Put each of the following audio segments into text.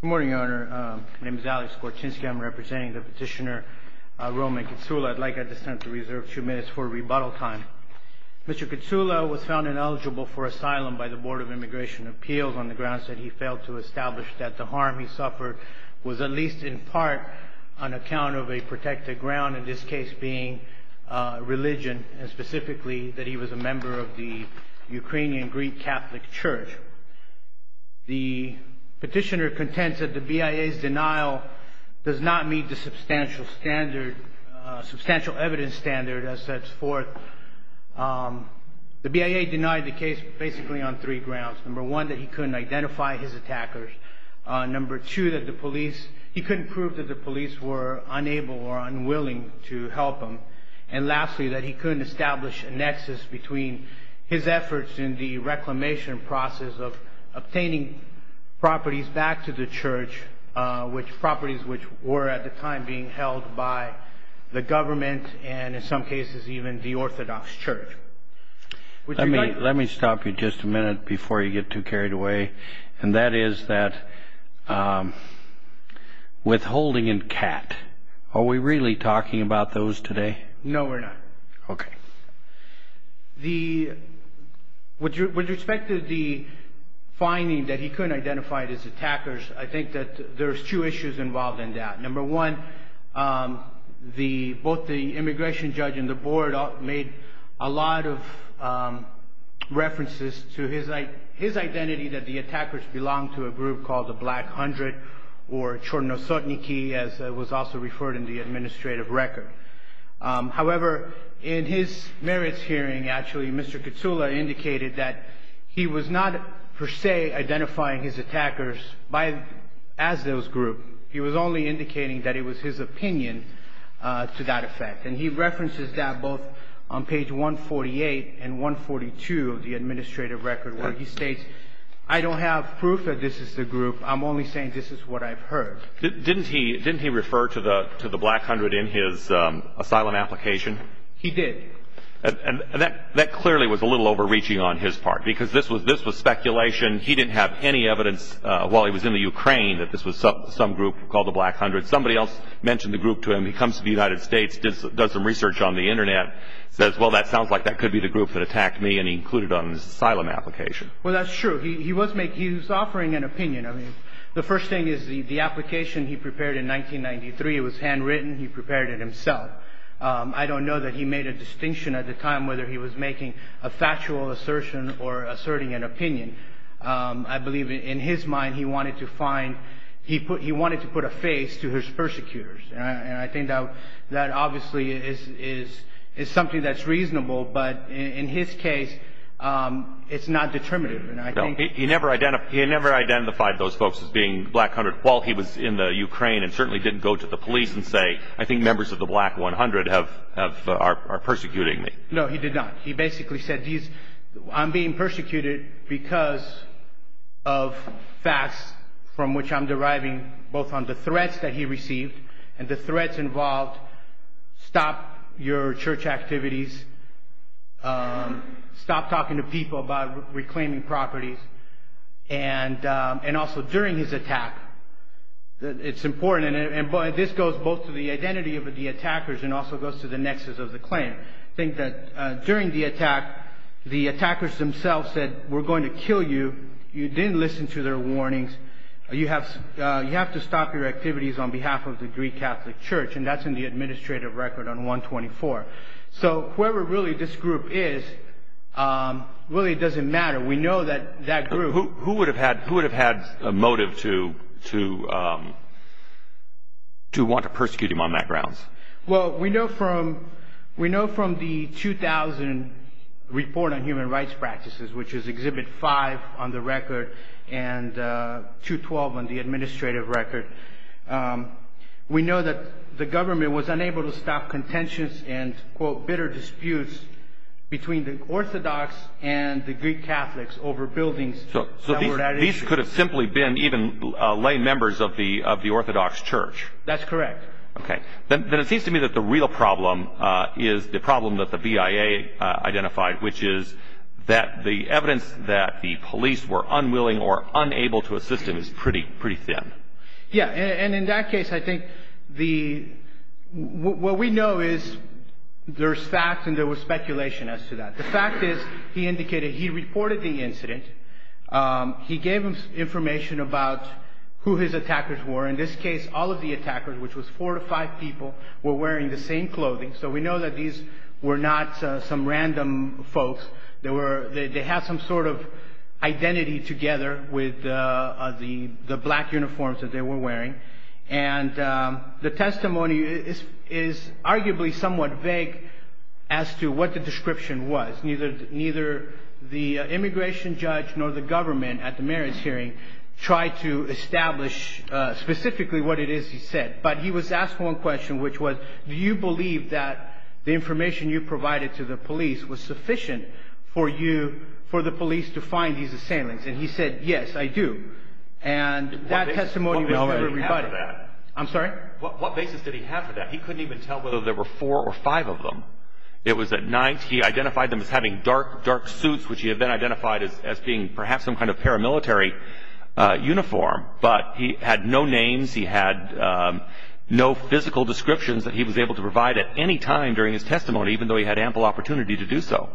Good morning, Your Honor. My name is Alex Kortinsky. I'm representing the Petitioner Roman Kitsoula. I'd like at this time to reserve a few minutes for rebuttal time. Mr. Kitsoula was found ineligible for asylum by the Board of Immigration Appeals on the grounds that he failed to establish that the harm he suffered was at least in part an account of a protected ground, in this case being religion, and specifically that he was a member of the Ukrainian Greek Catholic Church. The Petitioner contends that the BIA's denial does not meet the substantial standard, substantial evidence standard, as sets forth. The BIA denied the case basically on three grounds. Number one, that he couldn't identify his attackers. Number two, that the police, he couldn't prove that the police were unable or unwilling to help him. And lastly, that he couldn't establish a nexus between his efforts in the reclamation process of obtaining properties back to the church, properties which were at the time being held by the government and in some cases even the Orthodox Church. Let me stop you just a minute before you get too carried away. And that is that withholding in Kat. Are we really talking about those today? No, we're not. Okay. With respect to the finding that he couldn't identify his attackers, I think that there's two issues involved in that. Number one, both the immigration judge and the board made a lot of references to his identity that the attackers belonged to a group called the Black Hundred or Chornosotniki, as was also referred in the administrative record. However, in his merits hearing, actually, Mr. Katsula indicated that he was not per se identifying his attackers as those groups. He was only indicating that it was his opinion to that effect. And he references that both on page 148 and 142 of the administrative record where he states, I don't have proof that this is the group. I'm only saying this is what I've heard. Didn't he refer to the Black Hundred in his asylum application? He did. And that clearly was a little overreaching on his part because this was speculation. He didn't have any evidence while he was in the Ukraine that this was some group called the Black Hundred. Somebody else mentioned the group to him. He comes to the United States, does some research on the Internet, says, well, that sounds like that could be the group that attacked me, and he included it on his asylum application. Well, that's true. He was offering an opinion. I mean, the first thing is the application he prepared in 1993, it was handwritten. He prepared it himself. I don't know that he made a distinction at the time whether he was making a factual assertion or asserting an opinion. I believe in his mind he wanted to put a face to his persecutors. And I think that obviously is something that's reasonable, but in his case it's not determinative. He never identified those folks as being Black Hundred while he was in the Ukraine and certainly didn't go to the police and say, I think members of the Black One Hundred are persecuting me. No, he did not. He basically said I'm being persecuted because of facts from which I'm deriving both on the threats that he received and the threats involved, stop your church activities, stop talking to people about reclaiming properties. And also during his attack, it's important, and this goes both to the identity of the attackers and also goes to the nexus of the claim. I think that during the attack, the attackers themselves said we're going to kill you. You didn't listen to their warnings. You have to stop your activities on behalf of the Greek Catholic Church, and that's in the administrative record on 124. So whoever really this group is really doesn't matter. We know that that group. Who would have had a motive to want to persecute him on that grounds? Well, we know from the 2000 report on human rights practices, which is Exhibit 5 on the record and 212 on the administrative record, we know that the government was unable to stop contentions and, quote, bitter disputes between the Orthodox and the Greek Catholics over buildings. So these could have simply been even lay members of the Orthodox Church. That's correct. Okay. Then it seems to me that the real problem is the problem that the BIA identified, which is that the evidence that the police were unwilling or unable to assist him is pretty thin. Yeah. And in that case, I think what we know is there's facts and there was speculation as to that. The fact is he indicated he reported the incident. He gave us information about who his attackers were. In this case, all of the attackers, which was four to five people, were wearing the same clothing. So we know that these were not some random folks. They had some sort of identity together with the black uniforms that they were wearing. And the testimony is arguably somewhat vague as to what the description was. Neither the immigration judge nor the government at the mayor's hearing tried to establish specifically what it is he said. But he was asked one question, which was, do you believe that the information you provided to the police was sufficient for you, for the police to find these assailants? And he said, yes, I do. And that testimony was never rebutted. What basis did he have for that? I'm sorry? What basis did he have for that? He couldn't even tell whether there were four or five of them. It was at night. He identified them as having dark, dark suits, which he had then identified as being perhaps some kind of paramilitary uniform. But he had no names. He had no physical descriptions that he was able to provide at any time during his testimony, even though he had ample opportunity to do so.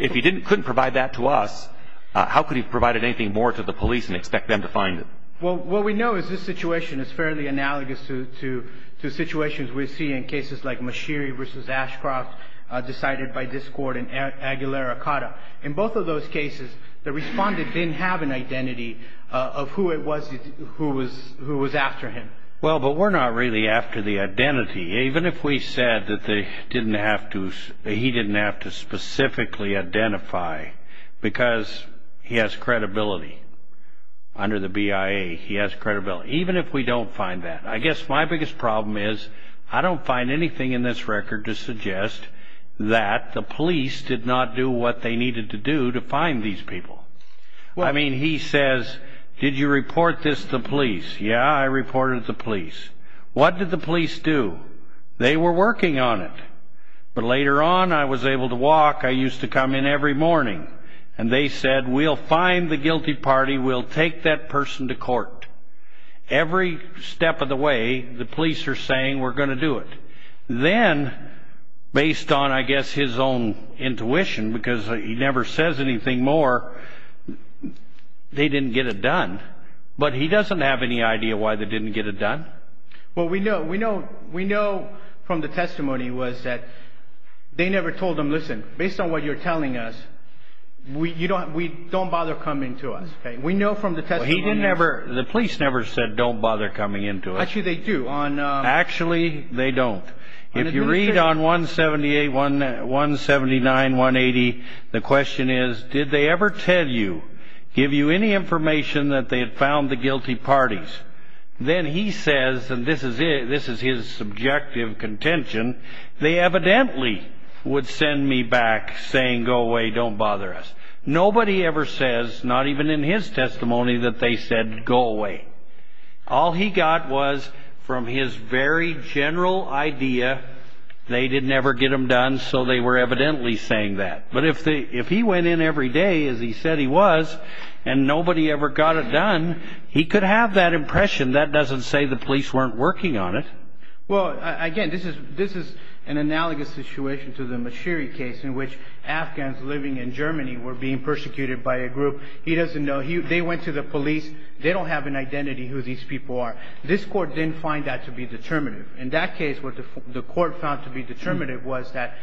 If he couldn't provide that to us, how could he have provided anything more to the police and expect them to find it? Well, what we know is this situation is fairly analogous to situations we see in cases like Mashiri v. Ashcroft, decided by discord in Aguilera-Cotta. In both of those cases, the respondent didn't have an identity of who it was who was after him. Well, but we're not really after the identity. Even if we said that he didn't have to specifically identify because he has credibility under the BIA, he has credibility. Even if we don't find that. I guess my biggest problem is I don't find anything in this record to suggest that the police did not do what they needed to do to find these people. I mean, he says, did you report this to the police? Yeah, I reported it to the police. What did the police do? They were working on it. But later on, I was able to walk. I used to come in every morning. And they said, we'll find the guilty party. We'll take that person to court. Every step of the way, the police are saying, we're going to do it. Then, based on, I guess, his own intuition, because he never says anything more, they didn't get it done. But he doesn't have any idea why they didn't get it done. Well, we know from the testimony was that they never told them, listen, based on what you're telling us, don't bother coming to us. We know from the testimony. The police never said, don't bother coming in to us. Actually, they do. Actually, they don't. If you read on 179-180, the question is, did they ever tell you, give you any information that they had found the guilty parties? Then he says, and this is his subjective contention, they evidently would send me back saying, go away, don't bother us. Nobody ever says, not even in his testimony, that they said, go away. All he got was, from his very general idea, they didn't ever get them done, so they were evidently saying that. But if he went in every day, as he said he was, and nobody ever got it done, he could have that impression. That doesn't say the police weren't working on it. Well, again, this is an analogous situation to the Mashiri case, in which Afghans living in Germany were being persecuted by a group. He doesn't know. They went to the police. They don't have an identity who these people are. This court didn't find that to be determinative. In that case, what the court found to be determinative was that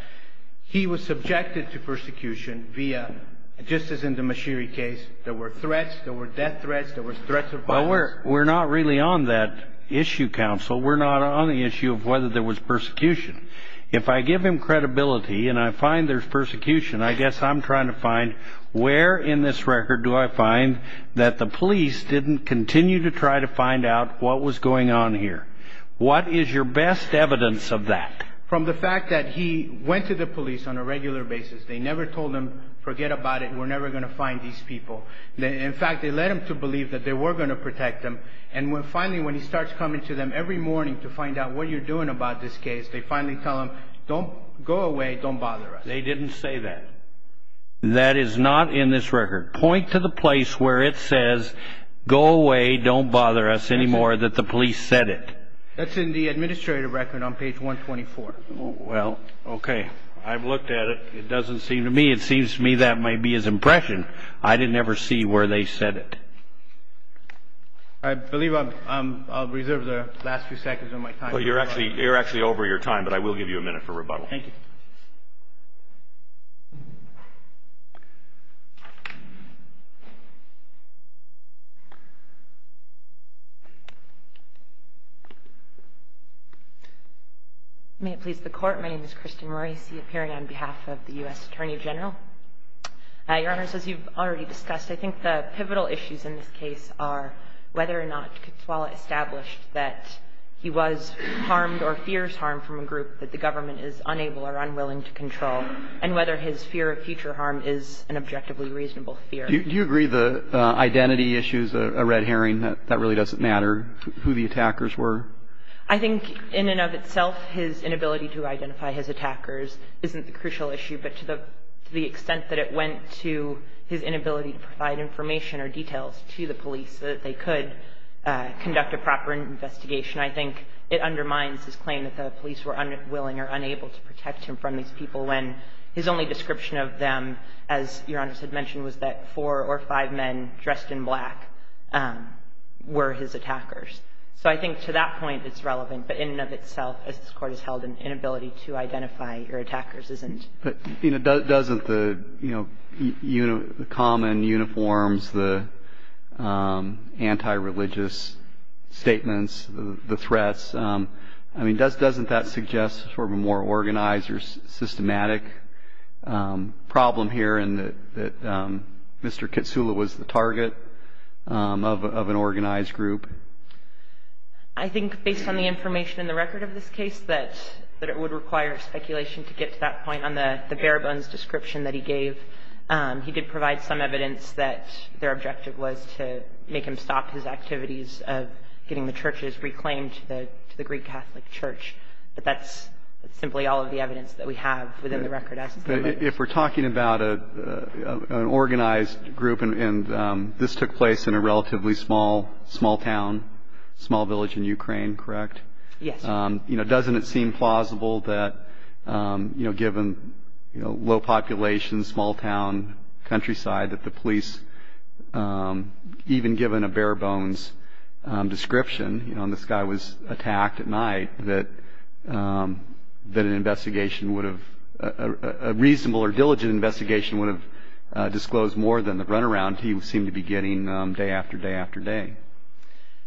he was subjected to persecution via, just as in the Mashiri case, there were threats. There were death threats. There were threats of violence. Well, we're not really on that issue, counsel. We're not on the issue of whether there was persecution. If I give him credibility and I find there's persecution, I guess I'm trying to find where in this record do I find that the police didn't continue to try to find out what was going on here. What is your best evidence of that? From the fact that he went to the police on a regular basis. They never told him, forget about it. We're never going to find these people. In fact, they led him to believe that they were going to protect him. And finally, when he starts coming to them every morning to find out what you're doing about this case, they finally tell him, go away, don't bother us. They didn't say that. That is not in this record. Point to the place where it says, go away, don't bother us anymore, that the police said it. That's in the administrative record on page 124. Well, okay. I've looked at it. It doesn't seem to me. It seems to me that may be his impression. I didn't ever see where they said it. I believe I'll reserve the last few seconds of my time. Well, you're actually over your time, but I will give you a minute for rebuttal. Thank you. May it please the Court. My name is Kristin Morrissey, appearing on behalf of the U.S. Attorney General. Your Honor, as you've already discussed, I think the pivotal issues in this case are whether or not Kotswala established that he was harmed or fears harm from a group that the government is unable or unwilling to control, and whether his fear of future harm is an objectively reasonable fear. Do you agree the identity issue is a red herring, that that really doesn't matter, who the attackers were? I think in and of itself, his inability to identify his attackers isn't the crucial issue, but to the extent that it went to his inability to provide information or details to the police so that they could conduct a proper investigation, I think it undermines his claim that the police were unwilling or unable to protect him from these people, when his only description of them, as Your Honors had mentioned, was that four or five men dressed in black were his attackers. So I think to that point it's relevant, but in and of itself, as this Court has held, an inability to identify your attackers isn't. But, you know, doesn't the, you know, the common uniforms, the anti-religious statements, the threats, I mean, doesn't that suggest sort of a more organized or systematic problem here in that Mr. Kotswala was the target of an organized group? I think, based on the information in the record of this case, that it would require speculation to get to that point on the bare-bones description that he gave. He did provide some evidence that their objective was to make him stop his activities of getting the churches reclaimed to the Greek Catholic Church, but that's simply all of the evidence that we have within the record as it stands. If we're talking about an organized group, and this took place in a relatively small town, small village in Ukraine, correct? Yes. You know, doesn't it seem plausible that, you know, given low populations, small town, countryside, that the police, even given a bare-bones description, you know, and this guy was attacked at night, that an investigation would have, a reasonable or diligent investigation would have disclosed more than the runaround he seemed to be getting day after day after day?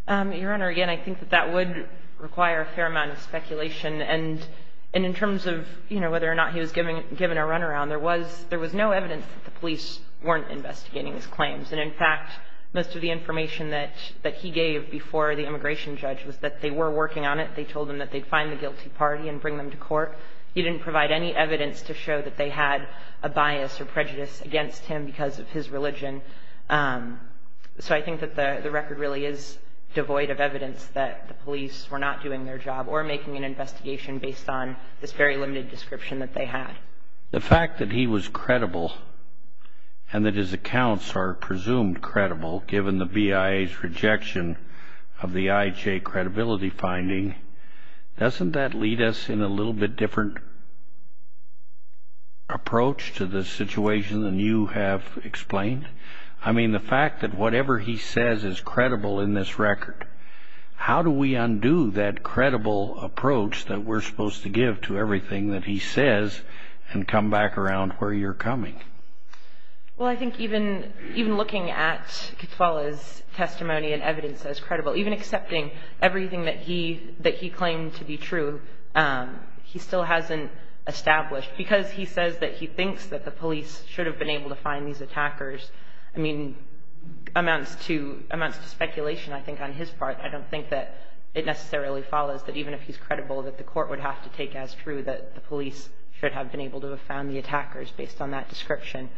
Your Honor, again, I think that that would require a fair amount of speculation, and in terms of, you know, whether or not he was given a runaround, there was no evidence that the police weren't investigating his claims, and, in fact, most of the information that he gave before the immigration judge was that they were working on it. They told him that they'd find the guilty party and bring them to court. He didn't provide any evidence to show that they had a bias or prejudice against him because of his religion, so I think that the record really is devoid of evidence that the police were not doing their job or making an investigation based on this very limited description that they had. The fact that he was credible and that his accounts are presumed credible, given the BIA's rejection of the IJ credibility finding, doesn't that lead us in a little bit different approach to this situation than you have explained? I mean, the fact that whatever he says is credible in this record, how do we undo that credible approach that we're supposed to give to everything that he says and come back around where you're coming? Well, I think even looking at Ketwala's testimony and evidence as credible, even accepting everything that he claimed to be true, he still hasn't established. Because he says that he thinks that the police should have been able to find these attackers, I mean, amounts to speculation, I think, on his part. I don't think that it necessarily follows that even if he's credible, that the court would have to take as true that the police should have been able to have found the attackers based on that description.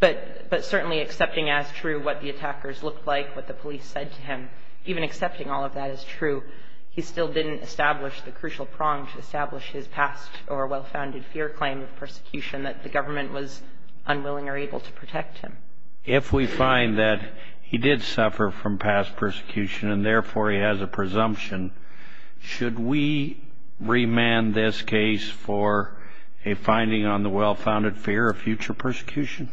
But certainly accepting as true what the attackers looked like, what the police said to him, even accepting all of that as true, he still didn't establish the crucial prong to establish his past or well-founded fear claim of persecution, that the government was unwilling or able to protect him. If we find that he did suffer from past persecution and, therefore, he has a presumption, should we remand this case for a finding on the well-founded fear of future persecution?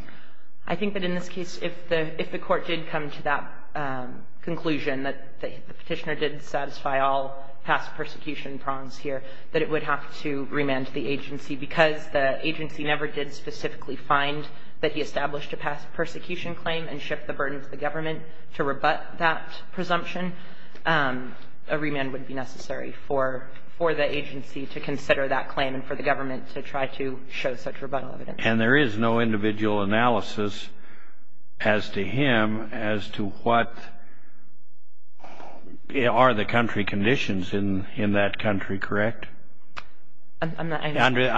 I think that in this case, if the court did come to that conclusion, that the Petitioner did satisfy all past persecution prongs here, that it would have to remand the agency. Because the agency never did specifically find that he established a past persecution claim and shift the burden to the government to rebut that presumption, a remand would be necessary for the agency to consider that claim and for the government to try to show such rebuttal evidence. And there is no individual analysis as to him as to what are the country conditions in that country, correct? I'm not...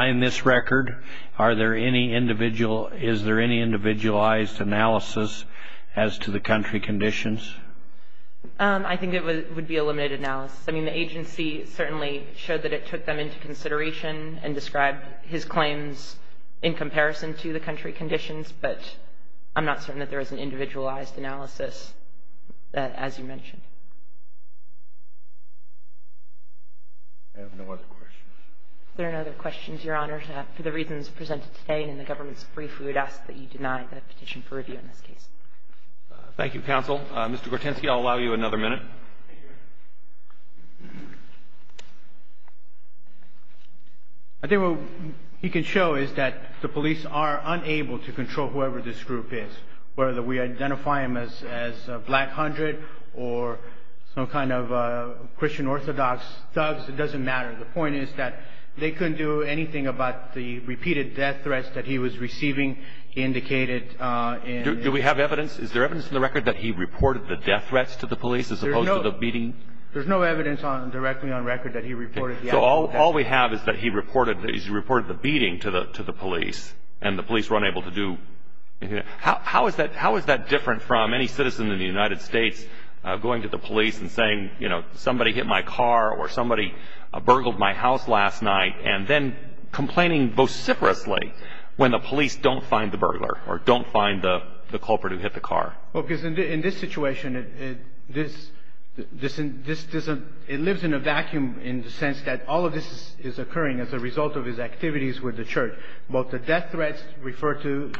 In this record, is there any individualized analysis as to the country conditions? I think it would be a limited analysis. I mean, the agency certainly showed that it took them into consideration and described his claims in comparison to the country conditions, but I'm not certain that there is an individualized analysis as you mentioned. I have no other questions. There are no other questions, Your Honor. For the reasons presented today and in the government's brief, we would ask that you deny the petition for review in this case. Thank you, counsel. Mr. Gortensky, I'll allow you another minute. I think what he can show is that the police are unable to control whoever this group is, whether we identify them as Black Hundred or some kind of Christian Orthodox thugs, it doesn't matter. The point is that they couldn't do anything about the repeated death threats that he was receiving indicated in... Do we have evidence? Is there evidence in the record that he reported the death threats to the police as opposed to the beating? There's no evidence directly on record that he reported the death threats. So all we have is that he reported the beating to the police and the police were unable to do... How is that different from any citizen in the United States going to the police and saying, you know, somebody hit my car or somebody burgled my house last night and then complaining vociferously when the police don't find the burglar or don't find the culprit who hit the car? Well, because in this situation, it lives in a vacuum in the sense that all of this is occurring as a result of his activities with the church. Both the death threats refer to...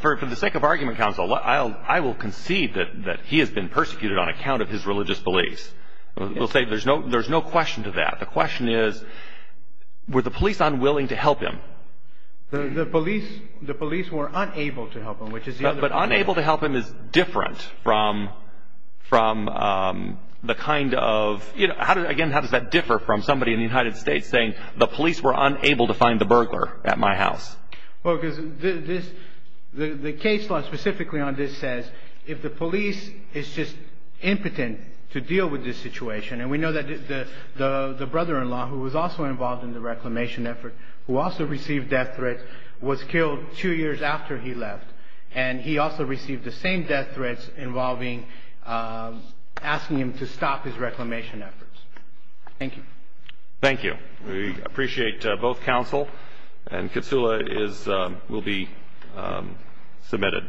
For the sake of argument, counsel, I will concede that he has been persecuted on account of his religious beliefs. We'll say there's no question to that. The question is, were the police unwilling to help him? The police were unable to help him, which is... But unable to help him is different from the kind of... Again, how does that differ from somebody in the United States saying, the police were unable to find the burglar at my house? Well, because the case law specifically on this says, if the police is just impotent to deal with this situation, and we know that the brother-in-law who was also involved in the reclamation effort, who also received death threats, was killed two years after he left. And he also received the same death threats involving asking him to stop his reclamation efforts. Thank you. Thank you. We appreciate both counsel. And Kitsula will be submitted.